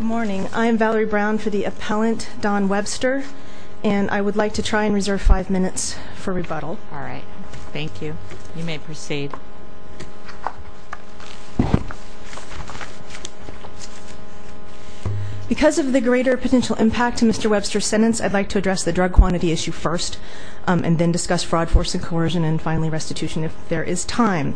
Morning, I am Valerie Brown for the appellant, Dawn Webster. And I would like to try and reserve five minutes for rebuttal. All right, thank you. You may proceed. Because of the greater potential impact to Mr. Webster's sentence, I'd like to address the drug quantity issue first. And then discuss fraud, force, and coercion, and finally restitution if there is time.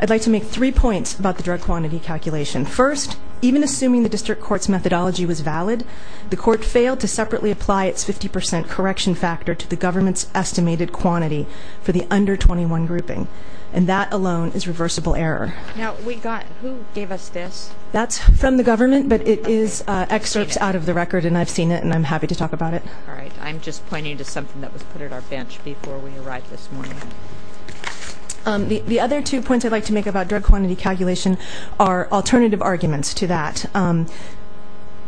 I'd like to make three points about the drug quantity calculation. First, even assuming the district court's methodology was valid, the court failed to separately apply its 50% correction factor to the government's estimated quantity for the under 21 grouping. And that alone is reversible error. Now, we got, who gave us this? That's from the government, but it is excerpts out of the record, and I've seen it, and I'm happy to talk about it. All right, I'm just pointing to something that was put at our bench before we arrived this morning. The other two points I'd like to make about drug quantity calculation are alternative arguments to that.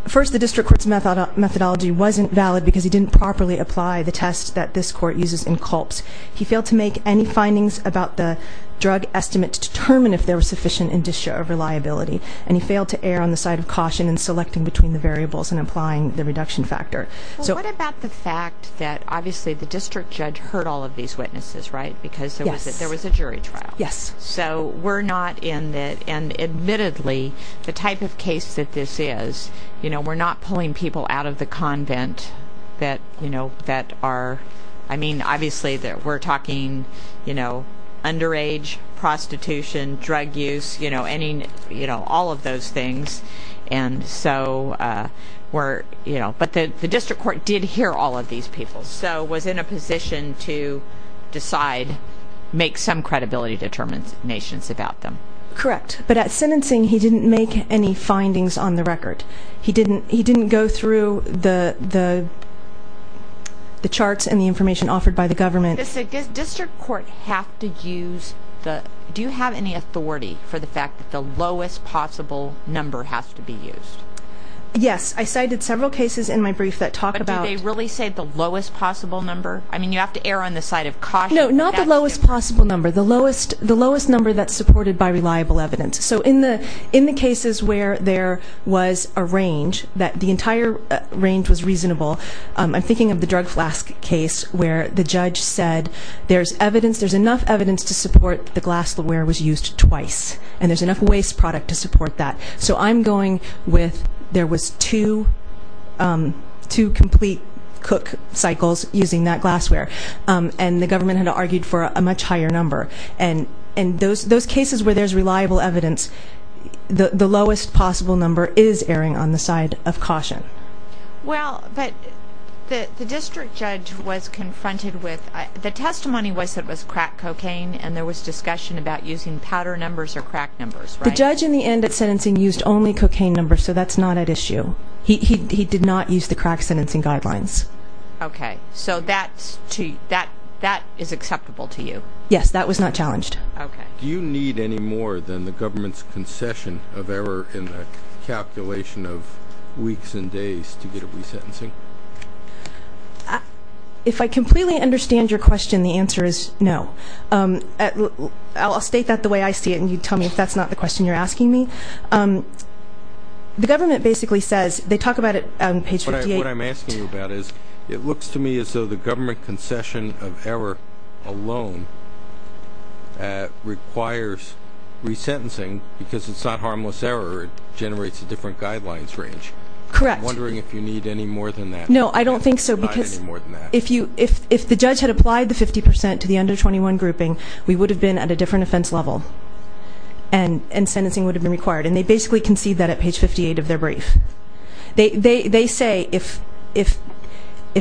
First, the district court's methodology wasn't valid because he didn't properly apply the test that this court uses in CULPS. He failed to make any findings about the drug estimate to determine if there was sufficient indicia of reliability. And he failed to err on the side of caution in selecting between the variables and applying the reduction factor. So what about the fact that obviously the district judge heard all of these witnesses, right? Because there was a jury trial. Yes. So we're not in that, and admittedly, the type of case that this is, you know, we're not pulling people out of the convent that, you know, that are, I mean, obviously we're talking, you know, underage, prostitution, drug use, you know, any, you know, all of those things. And so we're, you know, but the district court did hear all of these people. So was in a position to decide, make some credibility determinations about them. Correct. But at sentencing, he didn't make any findings on the record. He didn't go through the charts and the information offered by the government. Does the district court have to use the, do you have any authority for the fact that the lowest possible number has to be used? Yes, I cited several cases in my brief that talk about- But do they really say the lowest possible number? I mean, you have to err on the side of caution. No, not the lowest possible number. The lowest number that's supported by reliable evidence. So in the cases where there was a range, that the entire range was reasonable. I'm thinking of the drug flask case where the judge said there's evidence, there's enough evidence to support the glassware was used twice. And there's enough waste product to support that. So I'm going with, there was two complete cook cycles using that glassware. And the government had argued for a much higher number. And those cases where there's reliable evidence, the lowest possible number is erring on the side of caution. Well, but the district judge was confronted with, the testimony was that it was crack cocaine and there was discussion about using powder numbers or crack numbers, right? The judge in the end at sentencing used only cocaine numbers, so that's not at issue. He did not use the crack sentencing guidelines. Okay, so that is acceptable to you? Yes, that was not challenged. Okay. Do you need any more than the government's concession of error in a calculation of weeks and days to get a resentencing? If I completely understand your question, the answer is no. I'll state that the way I see it, and you tell me if that's not the question you're asking me. The government basically says, they talk about it on page 58. What I'm asking you about is, it looks to me as though the government concession of error alone requires resentencing, because it's not harmless error. It generates a different guidelines range. Correct. I'm wondering if you need any more than that. No, I don't think so, because if the judge had applied the 50% to the under 21 grouping, we would have been at a different offense level, and sentencing would have been required. And they basically concede that at page 58 of their brief. They say, if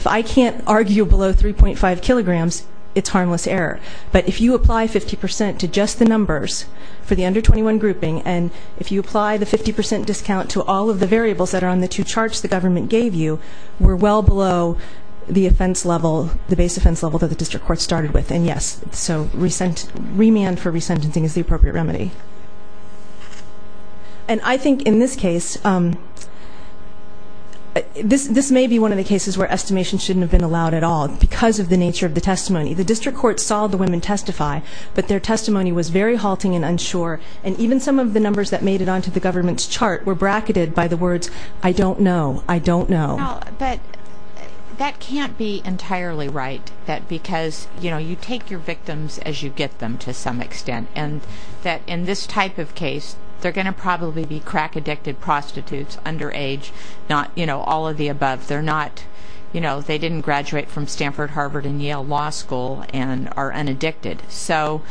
I can't argue below 3.5 kilograms, it's harmless error. But if you apply 50% to just the numbers for the under 21 grouping, and if you apply the 50% discount to all of the variables that are on the two charts the government gave you, we're well below the base offense level that the district court started with. And yes, so remand for resentencing is the appropriate remedy. And I think in this case, this may be one of the cases where estimation shouldn't have been allowed at all, because of the nature of the testimony. The district court saw the women testify, but their testimony was very halting and unsure. And even some of the numbers that made it onto the government's chart were bracketed by the words, I don't know, I don't know. But that can't be entirely right, that because you take your victims as you get them to some extent. And that in this type of case, they're going to probably be crack addicted prostitutes, underage, not all of the above. They're not, they didn't graduate from Stanford, Harvard, and Yale Law School, and are unaddicted. So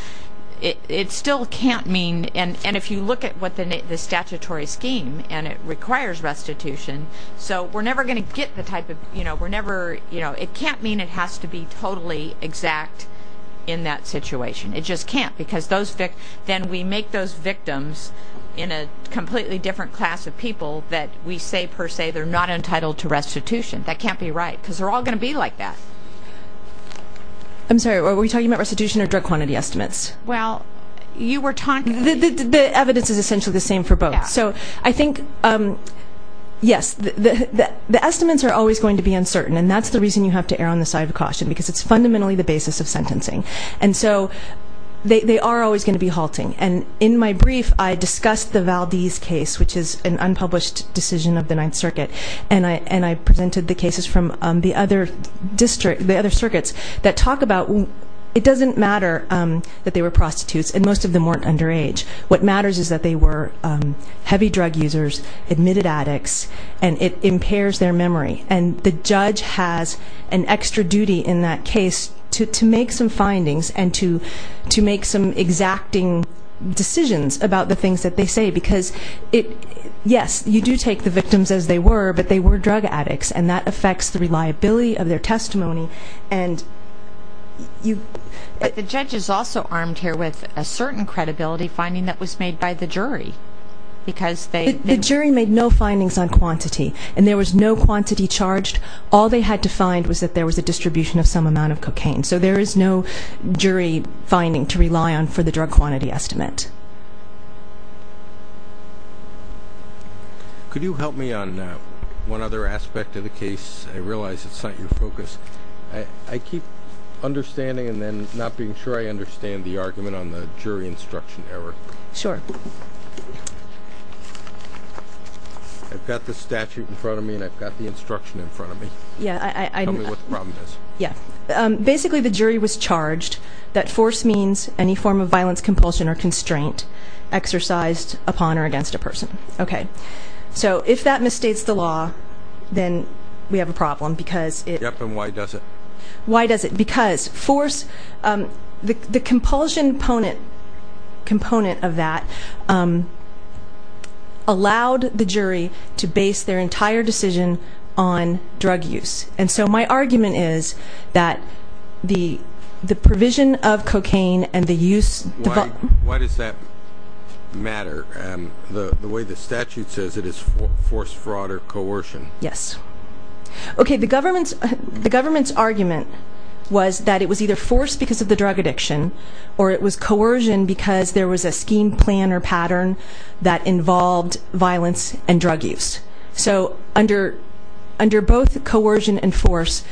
it still can't mean, and if you look at what the statutory scheme, and it requires restitution, so we're never going to get the type of, it can't mean it has to be totally exact in that situation. It just can't, because then we make those victims in a completely different class of people that we say per se, they're not entitled to restitution, that can't be right, because they're all going to be like that. I'm sorry, are we talking about restitution or drug quantity estimates? Well, you were talking- The evidence is essentially the same for both. So I think, yes, the estimates are always going to be uncertain. And that's the reason you have to err on the side of caution, because it's fundamentally the basis of sentencing. And so, they are always going to be halting. And in my brief, I discussed the Valdez case, which is an unpublished decision of the Ninth Circuit. And I presented the cases from the other circuits that talk about, it doesn't matter that they were prostitutes, and most of them weren't underage. What matters is that they were heavy drug users, admitted addicts, and it impairs their memory. And the judge has an extra duty in that case to make some findings and to make some exacting decisions about the things that they say. Because, yes, you do take the victims as they were, but they were drug addicts. And that affects the reliability of their testimony. And you- But the judge is also armed here with a certain credibility finding that was made by the jury. Because they- The jury made no findings on quantity. And there was no quantity charged. All they had to find was that there was a distribution of some amount of cocaine. So there is no jury finding to rely on for the drug quantity estimate. Could you help me on one other aspect of the case? I realize it's not your focus. I keep understanding and then not being sure I understand the argument on the jury instruction error. Sure. I've got the statute in front of me and I've got the instruction in front of me. Yeah, I- Tell me what the problem is. Yeah, basically the jury was charged that force means any form of violence, compulsion, or constraint exercised upon or against a person. Okay, so if that misstates the law, then we have a problem because it- Yep, and why does it? Why does it? Because force, the compulsion component of that allowed the jury to base their entire decision on drug use. And so my argument is that the provision of cocaine and the use- Why does that matter? The way the statute says it is force, fraud, or coercion. Yes. Okay, the government's argument was that it was either force because of the drug addiction, or it was coercion because there was a scheme, plan, or pattern that involved violence and drug use. So under both coercion and force,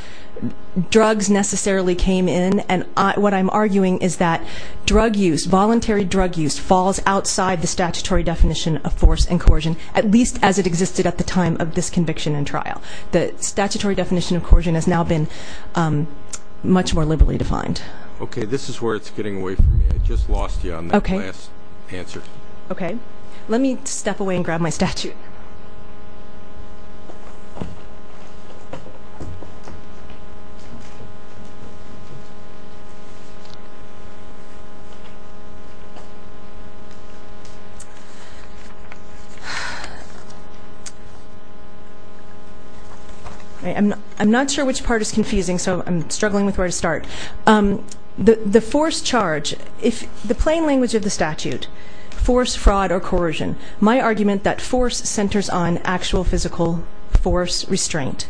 drugs necessarily came in, and what I'm arguing is that drug use, voluntary drug use, falls outside the statutory definition of force and coercion, at least as it existed at the time of this conviction and trial. The statutory definition of coercion has now been much more liberally defined. Okay, this is where it's getting away from me. I just lost you on that last answer. Okay, let me step away and grab my statute. I'm not sure which part is confusing, so I'm struggling with where to start. The force charge, if the plain language of the statute, force, fraud, or coercion, my argument that force centers on actual physical force restraint.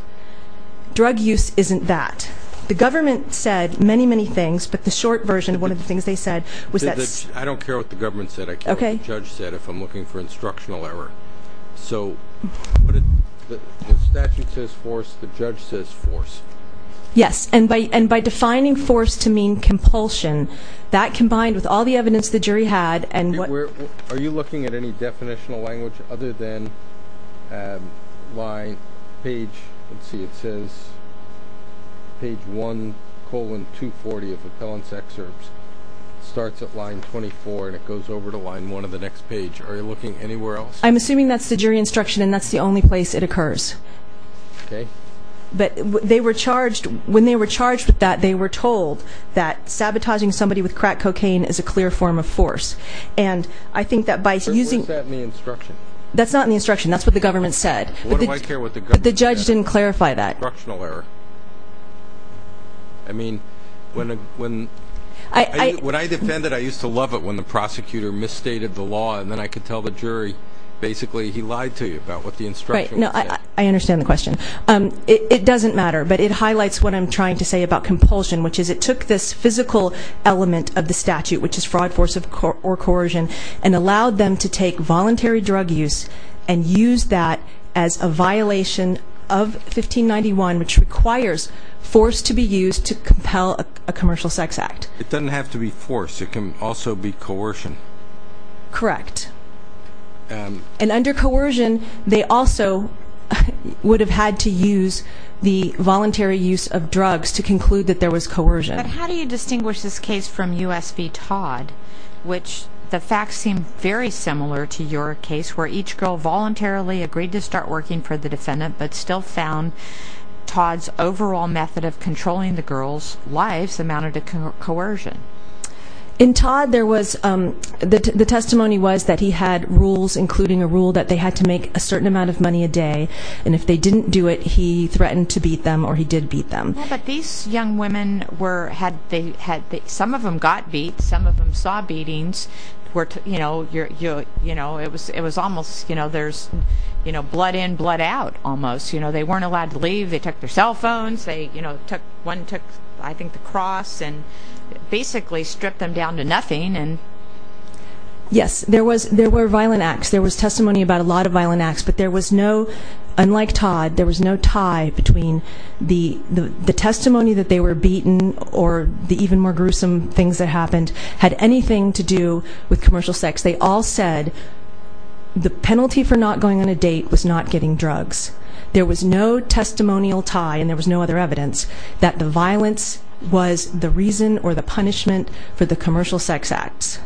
Drug use isn't that. The government said many, many things, but the short version of one of the things they said was that- I don't care what the government said, I care what the judge said, if I'm looking for instructional error. So the statute says force, the judge says force. Yes, and by defining force to mean compulsion, that combined with all the evidence the jury had and what- Are you looking at any definitional language other than line, page, let's see, it says page 1, colon 240 of appellant's excerpts. Starts at line 24 and it goes over to line 1 of the next page. Are you looking anywhere else? I'm assuming that's the jury instruction and that's the only place it occurs. Okay. But when they were charged with that, they were told that sabotaging somebody with crack cocaine is a clear form of force. And I think that by using- Was that in the instruction? That's not in the instruction, that's what the government said. What do I care what the government said? But the judge didn't clarify that. Instructional error. I mean, when I defended, I used to love it when the prosecutor misstated the law and then I could tell the jury basically he lied to you about what the instruction was saying. Right, no, I understand the question. It doesn't matter, but it highlights what I'm trying to say about compulsion, which is it took this physical element of the statute, which is fraud, force, or coercion, and allowed them to take voluntary drug use and use that as a violation of 1591, which requires force to be used to compel a commercial sex act. It doesn't have to be force, it can also be coercion. Correct. And under coercion, they also would have had to use the voluntary use of drugs to conclude that there was coercion. How do you distinguish this case from US v Todd? Which the facts seem very similar to your case, where each girl voluntarily agreed to start working for the defendant, but still found Todd's overall method of controlling the girl's life amounted to coercion. In Todd, the testimony was that he had rules, including a rule that they had to make a certain amount of money a day. And if they didn't do it, he threatened to beat them, or he did beat them. But these young women, some of them got beat, some of them saw beatings. It was almost, there's blood in, blood out, almost. They weren't allowed to leave. They took their cell phones, one took, I think, the cross, and basically stripped them down to nothing. Yes, there were violent acts. There was testimony about a lot of violent acts, but there was no, unlike Todd, there was no tie between the testimony that they were beaten or the even more gruesome things that happened had anything to do with commercial sex. They all said the penalty for not going on a date was not getting drugs. There was no testimonial tie, and there was no other evidence, that the violence was the reason or the punishment for the commercial sex acts.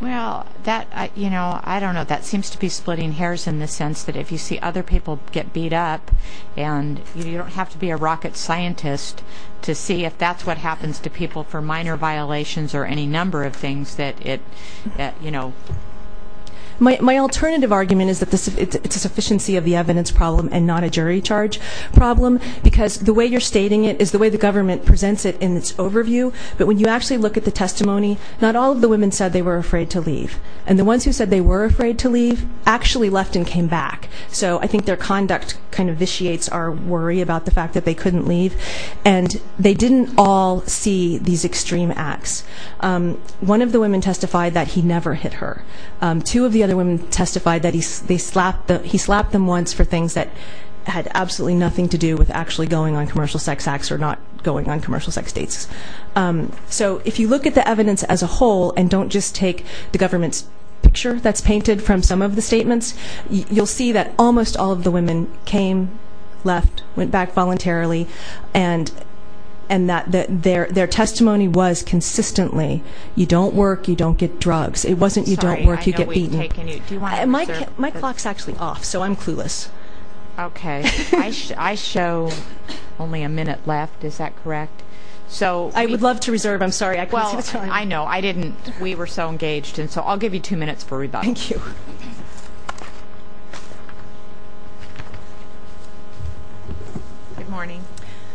Well, that, I don't know, that seems to be splitting hairs in the sense that if you see other people get beat up, and you don't have to be a rocket scientist to see if that's what happens to people for minor violations or any number of things that it, you know. My alternative argument is that it's a sufficiency of the evidence problem and not a jury charge problem, because the way you're stating it is the way the government presents it in its overview. But when you actually look at the testimony, not all of the women said they were afraid to leave. And the ones who said they were afraid to leave actually left and came back. So I think their conduct kind of vitiates our worry about the fact that they couldn't leave. And they didn't all see these extreme acts. One of the women testified that he never hit her. Two of the other women testified that he slapped them once for things that had absolutely nothing to do with actually going on commercial sex acts or not going on commercial sex dates. So if you look at the evidence as a whole, and don't just take the government's picture that's painted from some of the statements, you'll see that almost all of the women came, left, went back voluntarily. And that their testimony was consistently, you don't work, you don't get drugs. It wasn't you don't work, you get beaten. My clock's actually off, so I'm clueless. Okay, I show only a minute left, is that correct? So- I would love to reserve, I'm sorry, I couldn't see the time. I know, I didn't, we were so engaged. And so I'll give you two minutes for rebuttal. Thank you. Good morning.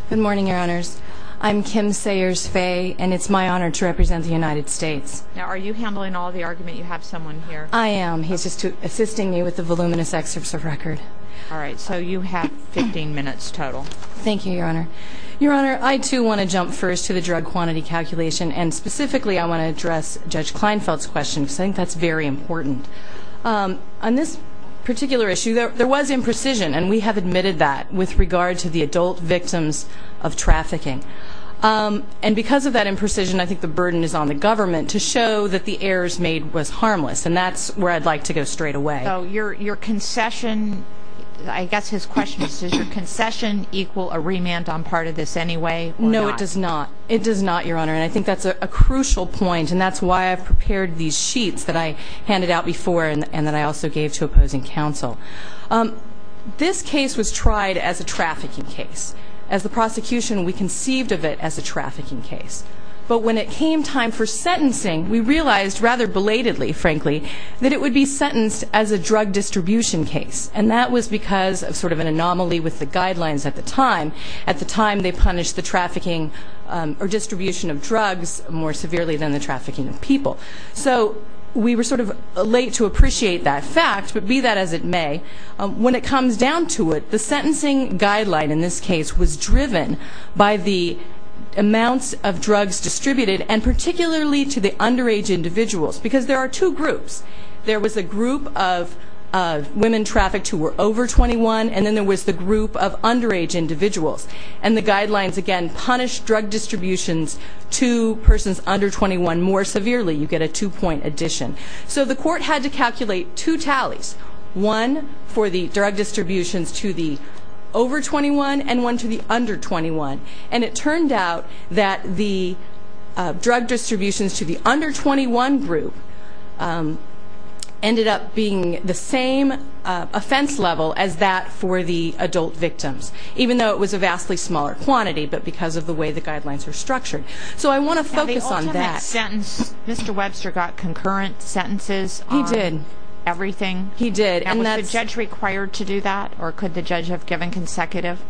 Good morning, your honors. I'm Kim Sayers Faye, and it's my honor to represent the United States. Now, are you handling all the argument you have someone here? I am, he's just assisting me with the voluminous excerpts of record. All right, so you have 15 minutes total. Thank you, your honor. Your honor, I too want to jump first to the drug quantity calculation. And specifically, I want to address Judge Kleinfeld's question, because I think that's very important. On this particular issue, there was imprecision, and we have admitted that with regard to the adult victims of trafficking. And because of that imprecision, I think the burden is on the government to show that the errors made was harmless. And that's where I'd like to go straight away. So your concession, I guess his question is, does your concession equal a remand on part of this anyway, or not? No, it does not. It does not, your honor, and I think that's a crucial point. And that's why I've prepared these sheets that I handed out before, and that I also gave to opposing counsel. This case was tried as a trafficking case. As the prosecution, we conceived of it as a trafficking case. But when it came time for sentencing, we realized, rather belatedly, frankly, that it would be sentenced as a drug distribution case. And that was because of sort of an anomaly with the guidelines at the time. At the time, they punished the trafficking or distribution of drugs more severely than the trafficking of people. So we were sort of late to appreciate that fact, but be that as it may, when it comes down to it, the sentencing guideline in this case was driven by the amounts of drugs distributed, and particularly to the underage individuals. Because there are two groups. There was a group of women trafficked who were over 21, and then there was the group of underage individuals. And the guidelines, again, punish drug distributions to persons under 21 more severely. You get a two point addition. So the court had to calculate two tallies. One for the drug distributions to the over 21, and one to the under 21. And it turned out that the drug distributions to the under 21 group ended up being the same offense level as that for the adult victims. Even though it was a vastly smaller quantity, but because of the way the guidelines were structured. So I want to focus on that. Mr. Webster got concurrent sentences on everything. He did. And was the judge required to do that, or could the judge have given consecutive?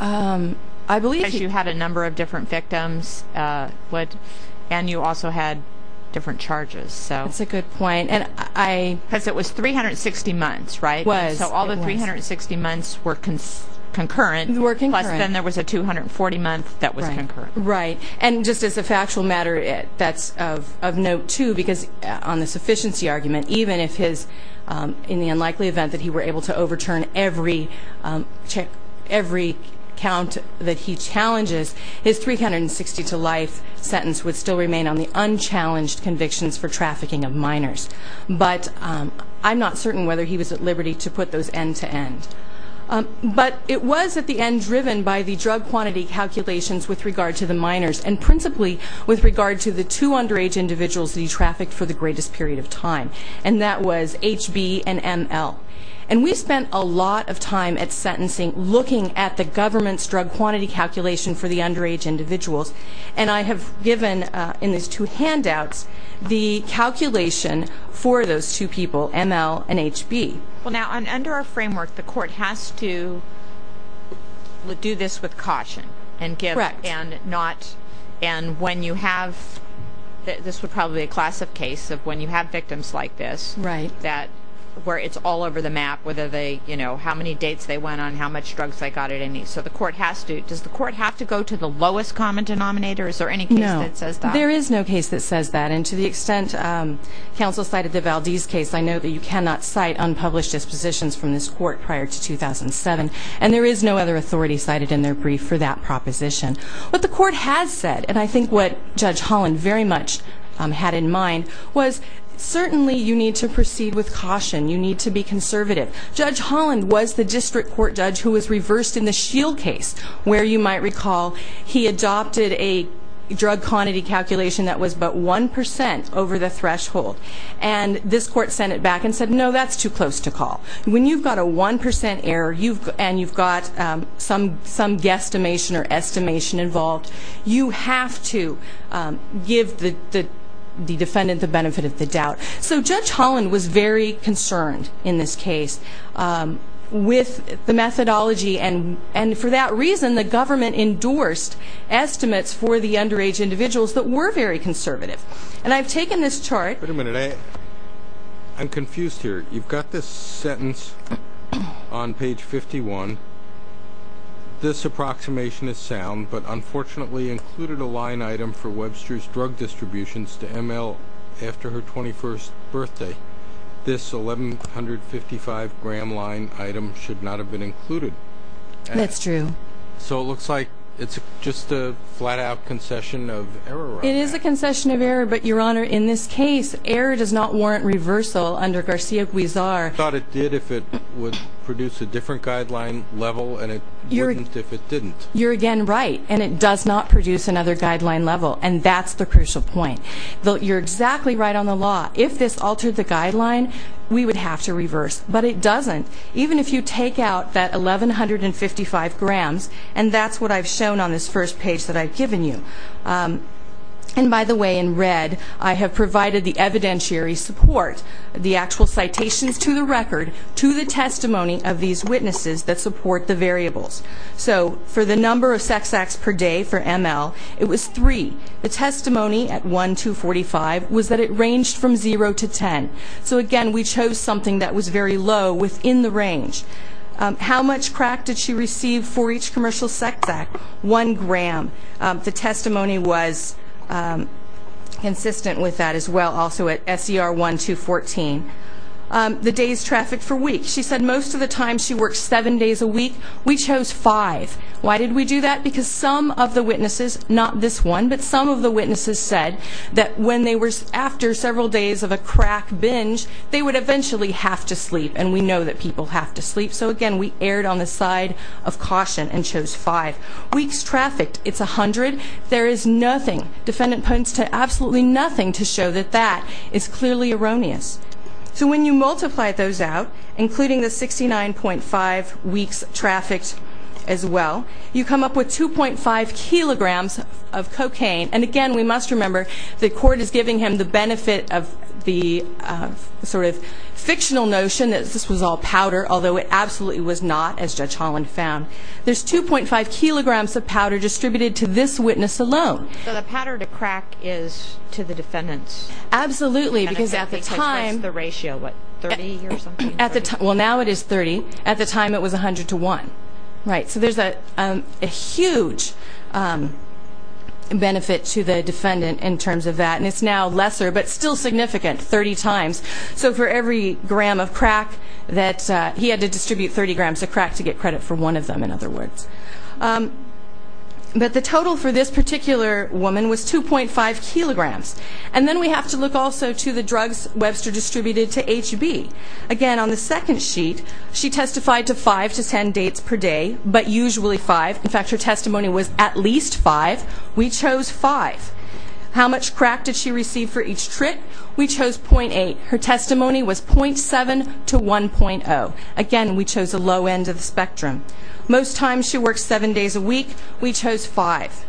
I believe he could. Because you had a number of different victims, and you also had different charges. That's a good point. And I- Because it was 360 months, right? It was. So all the 360 months were concurrent, plus then there was a 240 month that was concurrent. Right. And just as a factual matter, that's of note, too, because on the sufficiency argument, even if his, in the unlikely event that he were able to overturn every count that he challenges. His 360 to life sentence would still remain on the unchallenged convictions for trafficking of minors. But I'm not certain whether he was at liberty to put those end to end. But it was at the end driven by the drug quantity calculations with regard to the minors. And principally with regard to the two underage individuals that he trafficked for the greatest period of time. And that was HB and ML. And we spent a lot of time at sentencing looking at the government's drug quantity calculation for the underage individuals. And I have given in these two handouts the calculation for those two people, ML and HB. Well now, under our framework, the court has to do this with caution. And give, and not, and when you have, this would probably be a class of case of when you have victims like this. Right. That, where it's all over the map, whether they, you know, how many dates they went on, how much drugs they got at any. So the court has to, does the court have to go to the lowest common denominator? Is there any case that says that? No, there is no case that says that. And to the extent counsel cited the Valdez case, I know that you cannot cite unpublished dispositions from this court prior to 2007. And there is no other authority cited in their brief for that proposition. What the court has said, and I think what Judge Holland very much had in mind, was certainly you need to proceed with caution, you need to be conservative. Judge Holland was the district court judge who was reversed in the Shield case, where you might recall he adopted a drug quantity calculation that was but 1% over the threshold. And this court sent it back and said, no, that's too close to call. When you've got a 1% error, and you've got some guesstimation or estimation involved, you have to give the defendant the benefit of the doubt. So Judge Holland was very concerned in this case with the methodology. And for that reason, the government endorsed estimates for the underage individuals that were very conservative. And I've taken this chart. Wait a minute, I'm confused here. You've got this sentence on page 51. This approximation is sound, but unfortunately included a line item for this 1155 gram line item should not have been included. That's true. So it looks like it's just a flat out concession of error. It is a concession of error, but your honor, in this case, error does not warrant reversal under Garcia-Guizar. Thought it did if it would produce a different guideline level, and it wouldn't if it didn't. You're again right, and it does not produce another guideline level, and that's the crucial point. You're exactly right on the law. If this altered the guideline, we would have to reverse, but it doesn't. Even if you take out that 1155 grams, and that's what I've shown on this first page that I've given you. And by the way, in red, I have provided the evidentiary support, the actual citations to the record, to the testimony of these witnesses that support the variables. So for the number of sex acts per day for ML, it was three. The testimony at 1-245 was that it ranged from zero to ten. So again, we chose something that was very low within the range. How much crack did she receive for each commercial sex act? One gram. The testimony was consistent with that as well, also at SCR 1-214. The days trafficked for week. She said most of the time she worked seven days a week. We chose five. Why did we do that? Because some of the witnesses, not this one, but some of the witnesses said that when they were after several days of a crack binge, they would eventually have to sleep, and we know that people have to sleep. So again, we erred on the side of caution and chose five. Weeks trafficked, it's 100. There is nothing, defendant points to absolutely nothing to show that that is clearly erroneous. So when you multiply those out, including the 69.5 weeks trafficked as well, you come up with 2.5 kilograms of cocaine. And again, we must remember the court is giving him the benefit of the sort of fictional notion that this was all powder, although it absolutely was not, as Judge Holland found. There's 2.5 kilograms of powder distributed to this witness alone. So the powder to crack is to the defendants. Absolutely, because at the time- What's the ratio, what, 30 or something? Well, now it is 30. At the time, it was 100 to 1. Right, so there's a huge benefit to the defendant in terms of that. And it's now lesser, but still significant, 30 times. So for every gram of crack that, he had to distribute 30 grams of crack to get credit for one of them, in other words. But the total for this particular woman was 2.5 kilograms. And then we have to look also to the drugs Webster distributed to HB. Again, on the second sheet, she testified to five to ten dates per day, but usually five. In fact, her testimony was at least five. We chose five. How much crack did she receive for each trip? We chose 0.8. Her testimony was 0.7 to 1.0. Again, we chose a low end of the spectrum. Most times she worked seven days a week. We chose five.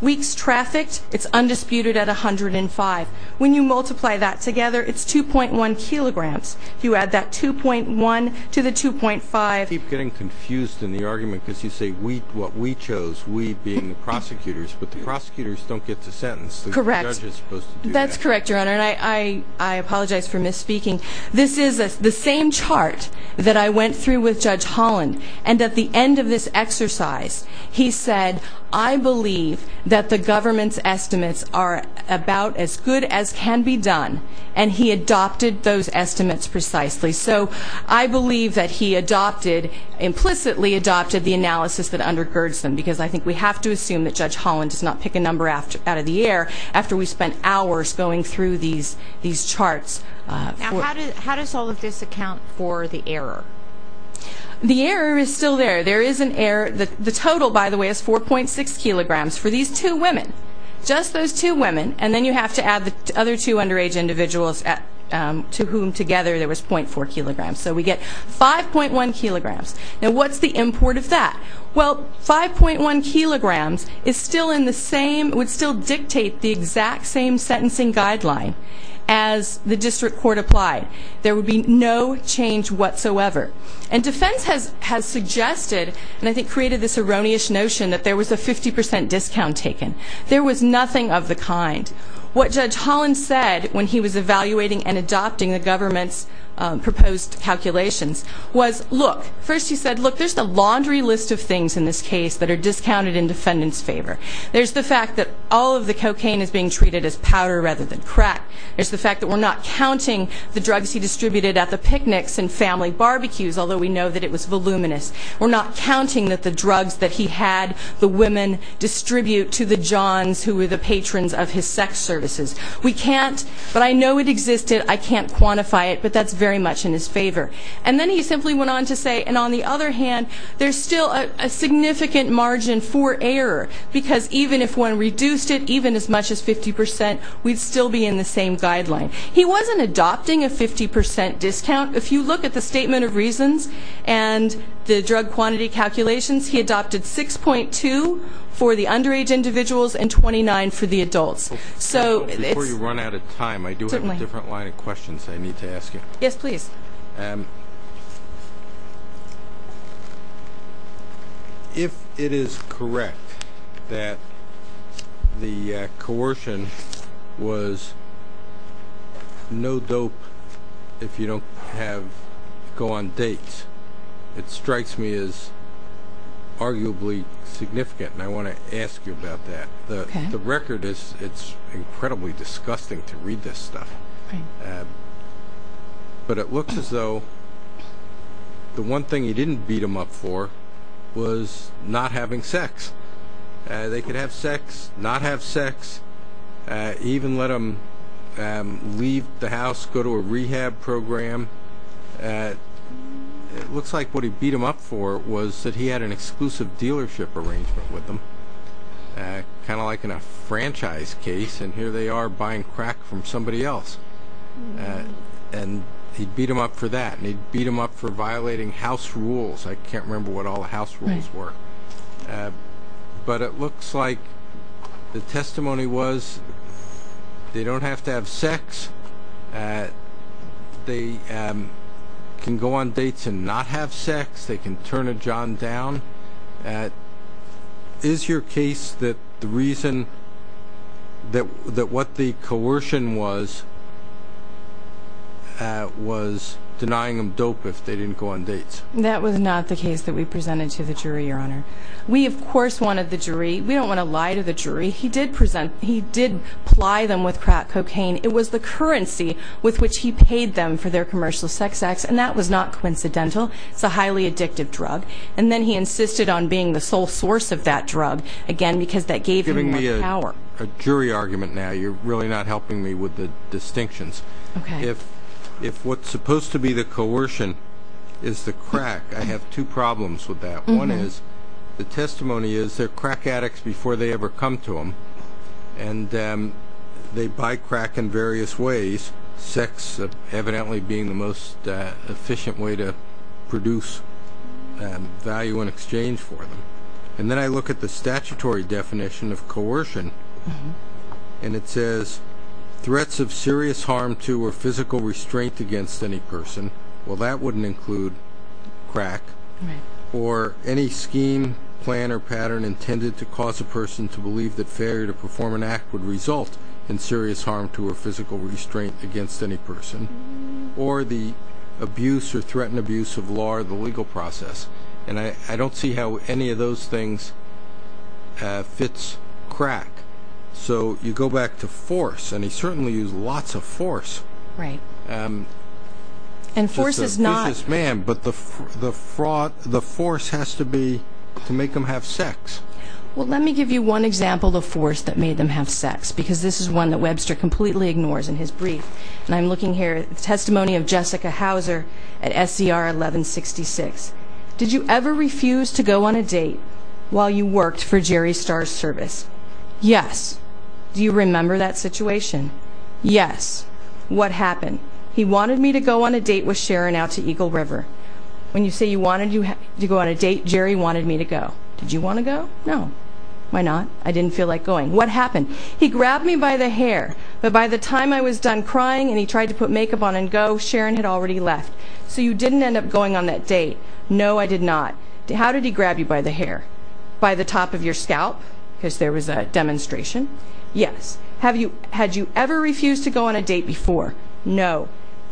Weeks trafficked, it's undisputed at 105. When you multiply that together, it's 2.1 kilograms. You add that 2.1 to the 2.5. I keep getting confused in the argument because you say what we chose, we being the prosecutors, but the prosecutors don't get to sentence. Correct. That's correct, Your Honor, and I apologize for misspeaking. This is the same chart that I went through with Judge Holland. And at the end of this exercise, he said, I believe that the government's good as can be done, and he adopted those estimates precisely. So I believe that he adopted, implicitly adopted, the analysis that undergirds them. Because I think we have to assume that Judge Holland does not pick a number out of the air after we spent hours going through these charts. Now, how does all of this account for the error? The error is still there. There is an error. The total, by the way, is 4.6 kilograms for these two women. Just those two women. And then you have to add the other two underage individuals to whom together there was 0.4 kilograms. So we get 5.1 kilograms. Now, what's the import of that? Well, 5.1 kilograms is still in the same, would still dictate the exact same sentencing guideline as the district court applied. There would be no change whatsoever. And defense has suggested, and I think created this erroneous notion, that there was a 50% discount taken. There was nothing of the kind. What Judge Holland said when he was evaluating and adopting the government's proposed calculations was, look. First he said, look, there's the laundry list of things in this case that are discounted in defendant's favor. There's the fact that all of the cocaine is being treated as powder rather than crack. There's the fact that we're not counting the drugs he distributed at the picnics and family barbecues, although we know that it was voluminous. We're not counting that the drugs that he had the women distribute to the Johns who were the patrons of his sex services. We can't, but I know it existed, I can't quantify it, but that's very much in his favor. And then he simply went on to say, and on the other hand, there's still a significant margin for error. Because even if one reduced it, even as much as 50%, we'd still be in the same guideline. He wasn't adopting a 50% discount. If you look at the statement of reasons and the drug quantity calculations, he adopted 6.2 for the underage individuals and 29 for the adults. So it's- Before you run out of time, I do have a different line of questions I need to ask you. Yes, please. If it is correct that the coercion was no dope if you don't have- go on dates. It strikes me as arguably significant, and I want to ask you about that. The record is, it's incredibly disgusting to read this stuff. But it looks as though the one thing he didn't beat them up for was not having sex. They could have sex, not have sex, even let them leave the house, go to a rehab program. It looks like what he beat them up for was that he had an exclusive dealership arrangement with them. Kind of like in a franchise case, and here they are buying crack from somebody else. And he'd beat them up for that, and he'd beat them up for violating house rules. I can't remember what all the house rules were. But it looks like the testimony was, they don't have to have sex. They can go on dates and not have sex. They can turn a John down. Is your case that the reason that what the coercion was was denying them dope if they didn't go on dates? That was not the case that we presented to the jury, your honor. We, of course, wanted the jury. We don't want to lie to the jury. He did ply them with crack cocaine. It was the currency with which he paid them for their commercial sex acts, and that was not coincidental. It's a highly addictive drug. And then he insisted on being the sole source of that drug. Again, because that gave him more power. You're giving me a jury argument now. You're really not helping me with the distinctions. Okay. If what's supposed to be the coercion is the crack, I have two problems with that. One is, the testimony is they're crack addicts before they ever come to them, and they buy crack in various ways, sex evidently being the most efficient way to produce value in exchange for them. And then I look at the statutory definition of coercion, and it says, threats of serious harm to or physical restraint against any person. Well, that wouldn't include crack or any scheme, plan, or pattern intended to cause a person to believe that failure to perform an act would result in serious harm to or physical restraint against any person, or the abuse or threatened abuse of law or the legal process. And I don't see how any of those things fits crack. So you go back to force, and he certainly used lots of force. Right. And force is not- Just a business man, but the force has to be to make them have sex. Well, let me give you one example of force that made them have sex, because this is one that Webster completely ignores in his brief. And I'm looking here at the testimony of Jessica Houser at SCR 1166. Did you ever refuse to go on a date while you worked for Jerry Starr's service? Yes. Do you remember that situation? Yes. What happened? He wanted me to go on a date with Sharon out to Eagle River. When you say you wanted to go on a date, Jerry wanted me to go. Did you want to go? No. Why not? I didn't feel like going. What happened? He grabbed me by the hair, but by the time I was done crying and he tried to put makeup on and go, Sharon had already left. So you didn't end up going on that date? No, I did not. How did he grab you by the hair? By the top of your scalp? Because there was a demonstration? Yes. Had you ever refused to go on a date before? No.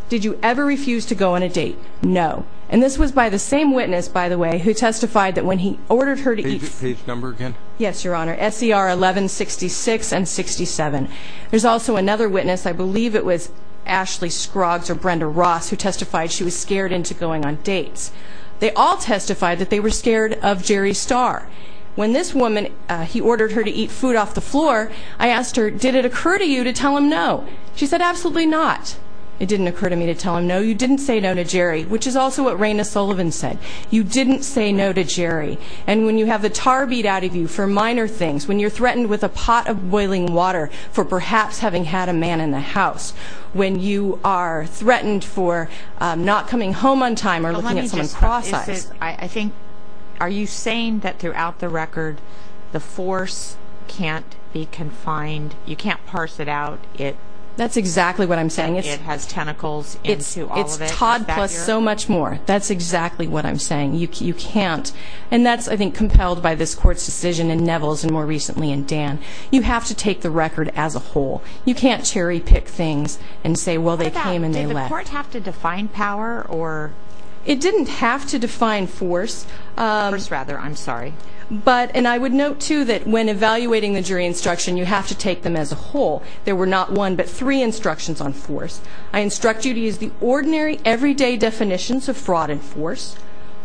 Did you ever refuse to go on a date? No. And this was by the same witness, by the way, who testified that when he ordered her to eat... Page number again? Yes, Your Honor. SCR 1166 and 67. There's also another witness, I believe it was Ashley Scroggs or Brenda Ross, who testified she was scared into going on dates. They all testified that they were scared of Jerry Starr. When this woman, he ordered her to eat food off the floor, I asked her, did it occur to you to tell him no? She said, absolutely not. It didn't occur to me to tell him no. You didn't say no to Jerry, which is also what Raina Sullivan said. You didn't say no to Jerry. And when you have the tar beat out of you for minor things, when you're threatened with a pot of boiling water for perhaps having had a man in the house, when you are threatened for not coming home on time or looking at someone's process... That's exactly what I'm saying. It has tentacles into all of it. It's Todd plus so much more. That's exactly what I'm saying. You can't. And that's, I think, compelled by this Court's decision in Neville's and more recently in Dan. You have to take the record as a whole. You can't cherry pick things and say, well, they came and they left. What about, did the Court have to define power or... It didn't have to define force. Force, rather. I'm sorry. But, and I would note, too, that when evaluating the jury instruction, you have to take them as a whole. There were not one, but three instructions on force. I instruct you to use the ordinary, everyday definitions of fraud and force.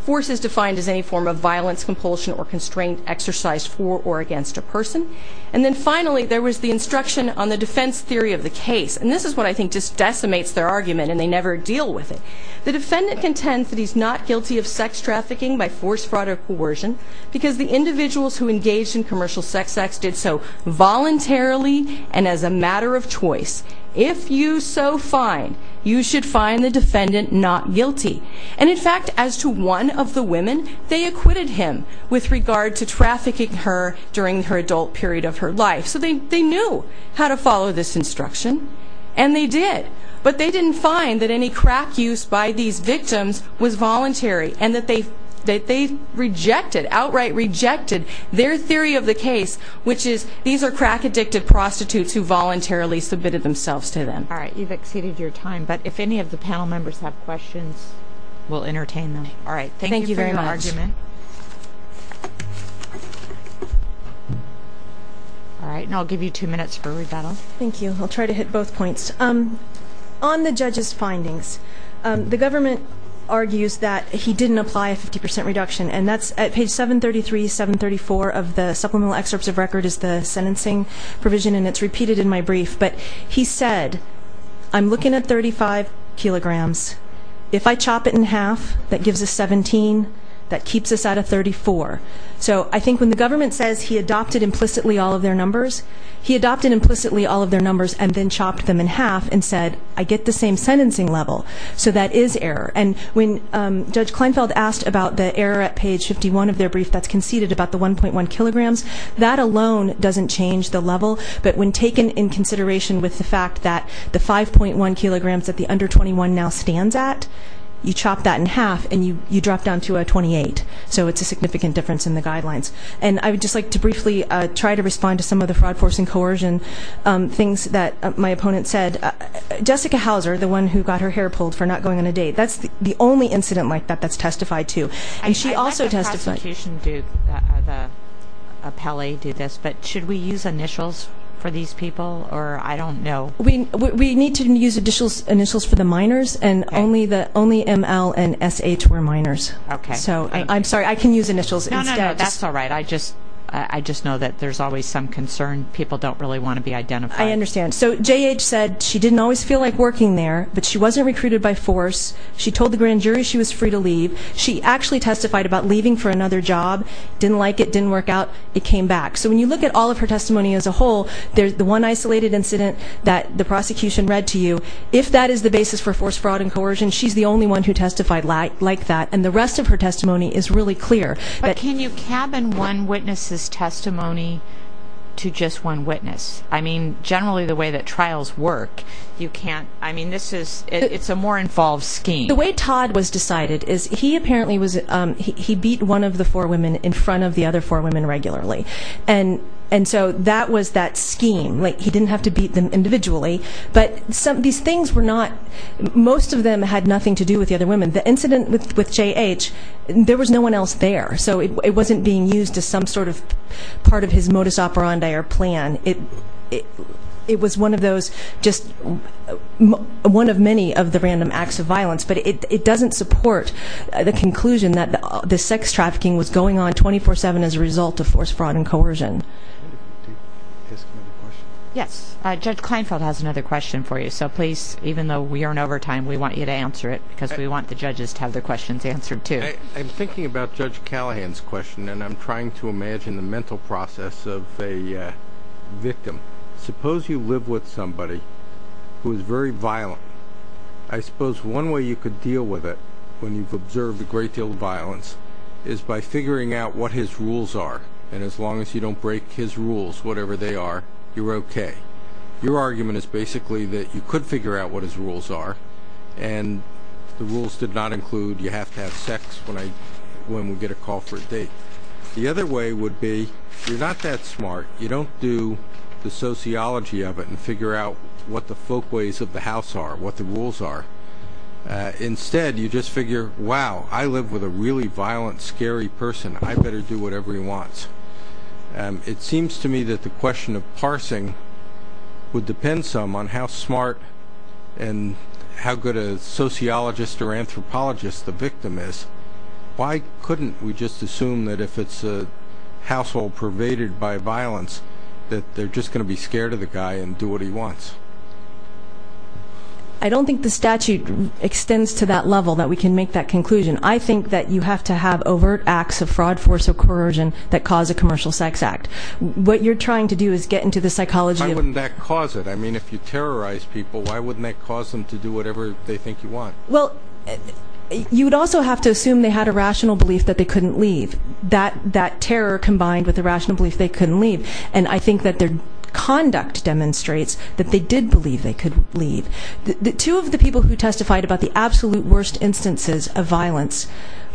Force is defined as any form of violence, compulsion, or constrained exercise for or against a person. And then finally, there was the instruction on the defense theory of the case. And this is what I think just decimates their argument, and they never deal with it. The defendant contends that he's not guilty of sex trafficking by force, fraud, or coercion because the individuals who engaged in commercial sex acts did so voluntarily and as a matter of choice. If you so find, you should find the defendant not guilty. And in fact, as to one of the women, they acquitted him with regard to trafficking her during her adult period of her life. So they knew how to follow this instruction, and they did. But they didn't find that any crack use by these victims was voluntary and that they outright rejected their theory of the case, which is these are crack-addicted prostitutes who voluntarily submitted themselves to them. All right, you've exceeded your time, but if any of the panel members have questions, we'll entertain them. All right, thank you very much. Thank you for your argument. All right, and I'll give you two minutes for rebuttal. Thank you. I'll try to hit both points. On the judge's findings, the government argues that he didn't apply a 50% reduction. And that's at page 733, 734 of the supplemental excerpts of record is the sentencing provision, and it's repeated in my brief. But he said, I'm looking at 35 kilograms. If I chop it in half, that gives us 17. That keeps us at a 34. So I think when the government says he adopted implicitly all of their numbers, he adopted implicitly all of their numbers and then chopped them in half and said, I get the same sentencing level. So that is error. And when Judge Kleinfeld asked about the error at page 51 of their brief that's conceded about the 1.1 kilograms, that alone doesn't change the level. But when taken in consideration with the fact that the 5.1 kilograms that the under 21 now stands at, you chop that in half and you drop down to a 28. So it's a significant difference in the guidelines. And I would just like to briefly try to respond to some of the fraud, force, and coercion things that my opponent said. Jessica Houser, the one who got her hair pulled for not going on a date, that's the only incident like that that's testified to. And she also testified- I'd like the prosecution to, the appellee, do this, but should we use initials for these people? Or I don't know. We need to use initials for the minors, and only ML and SH were minors. Okay. So I'm sorry. I can use initials instead. That's all right. I just know that there's always some concern. People don't really want to be identified. I understand. So JH said she didn't always feel like working there, but she wasn't recruited by force. She told the grand jury she was free to leave. She actually testified about leaving for another job. Didn't like it. Didn't work out. It came back. So when you look at all of her testimony as a whole, the one isolated incident that the prosecution read to you, if that is the basis for force, fraud, and coercion, she's the only one who testified like that. And the rest of her testimony is really clear. But can you cabin one witness's testimony to just one witness? I mean, generally the way that trials work, you can't. I mean, this is, it's a more involved scheme. The way Todd was decided is he apparently was, he beat one of the four women in front of the other four women regularly. And so that was that scheme. Like, he didn't have to beat them individually. But these things were not, most of them had nothing to do with the other women. The incident with J.H., there was no one else there. So it wasn't being used as some sort of part of his modus operandi or plan. It was one of those, just one of many of the random acts of violence. But it doesn't support the conclusion that the sex trafficking was going on 24-7 as a result of force, fraud, and coercion. Yes, Judge Kleinfeld has another question for you. So please, even though we are in overtime, we want you to answer it. Because we want the judges to have their questions answered too. I'm thinking about Judge Callahan's question. And I'm trying to imagine the mental process of a victim. Suppose you live with somebody who is very violent. I suppose one way you could deal with it, when you've observed a great deal of violence, is by figuring out what his rules are. And as long as you don't break his rules, whatever they are, you're okay. Your argument is basically that you could figure out what his rules are. And the rules did not include, you have to have sex when we get a call for a date. The other way would be, you're not that smart. You don't do the sociology of it and figure out what the folkways of the house are, what the rules are. Instead, you just figure, wow, I live with a really violent, scary person. I better do whatever he wants. It seems to me that the question of parsing would depend some on how smart and how good a sociologist or anthropologist the victim is. Why couldn't we just assume that if it's a household pervaded by violence, that they're just going to be scared of the guy and do what he wants? I don't think the statute extends to that level, that we can make that conclusion. I think that you have to have overt acts of fraud, force, or coercion that cause a commercial sex act. What you're trying to do is get into the psychology of- Why wouldn't that cause it? I mean, if you terrorize people, why wouldn't that cause them to do whatever they think you want? Well, you would also have to assume they had a rational belief that they couldn't leave. That terror combined with the rational belief they couldn't leave. And I think that their conduct demonstrates that they did believe they could leave. Two of the people who testified about the absolute worst instances of violence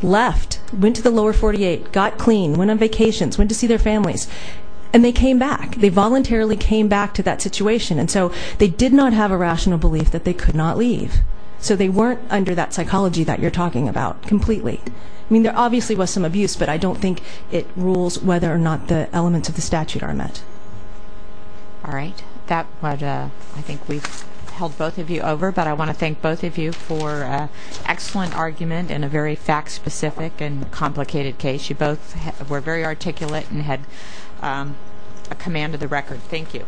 left, went to the lower 48, got clean, went on vacations, went to see their families, and they came back. They voluntarily came back to that situation. And so they did not have a rational belief that they could not leave. So they weren't under that psychology that you're talking about completely. I mean, there obviously was some abuse, but I don't think it rules whether or not the elements of the statute are met. All right. I think we've held both of you over, but I want to thank both of you for an excellent argument in a very fact-specific and complicated case. You both were very articulate and had a command of the record. Thank you.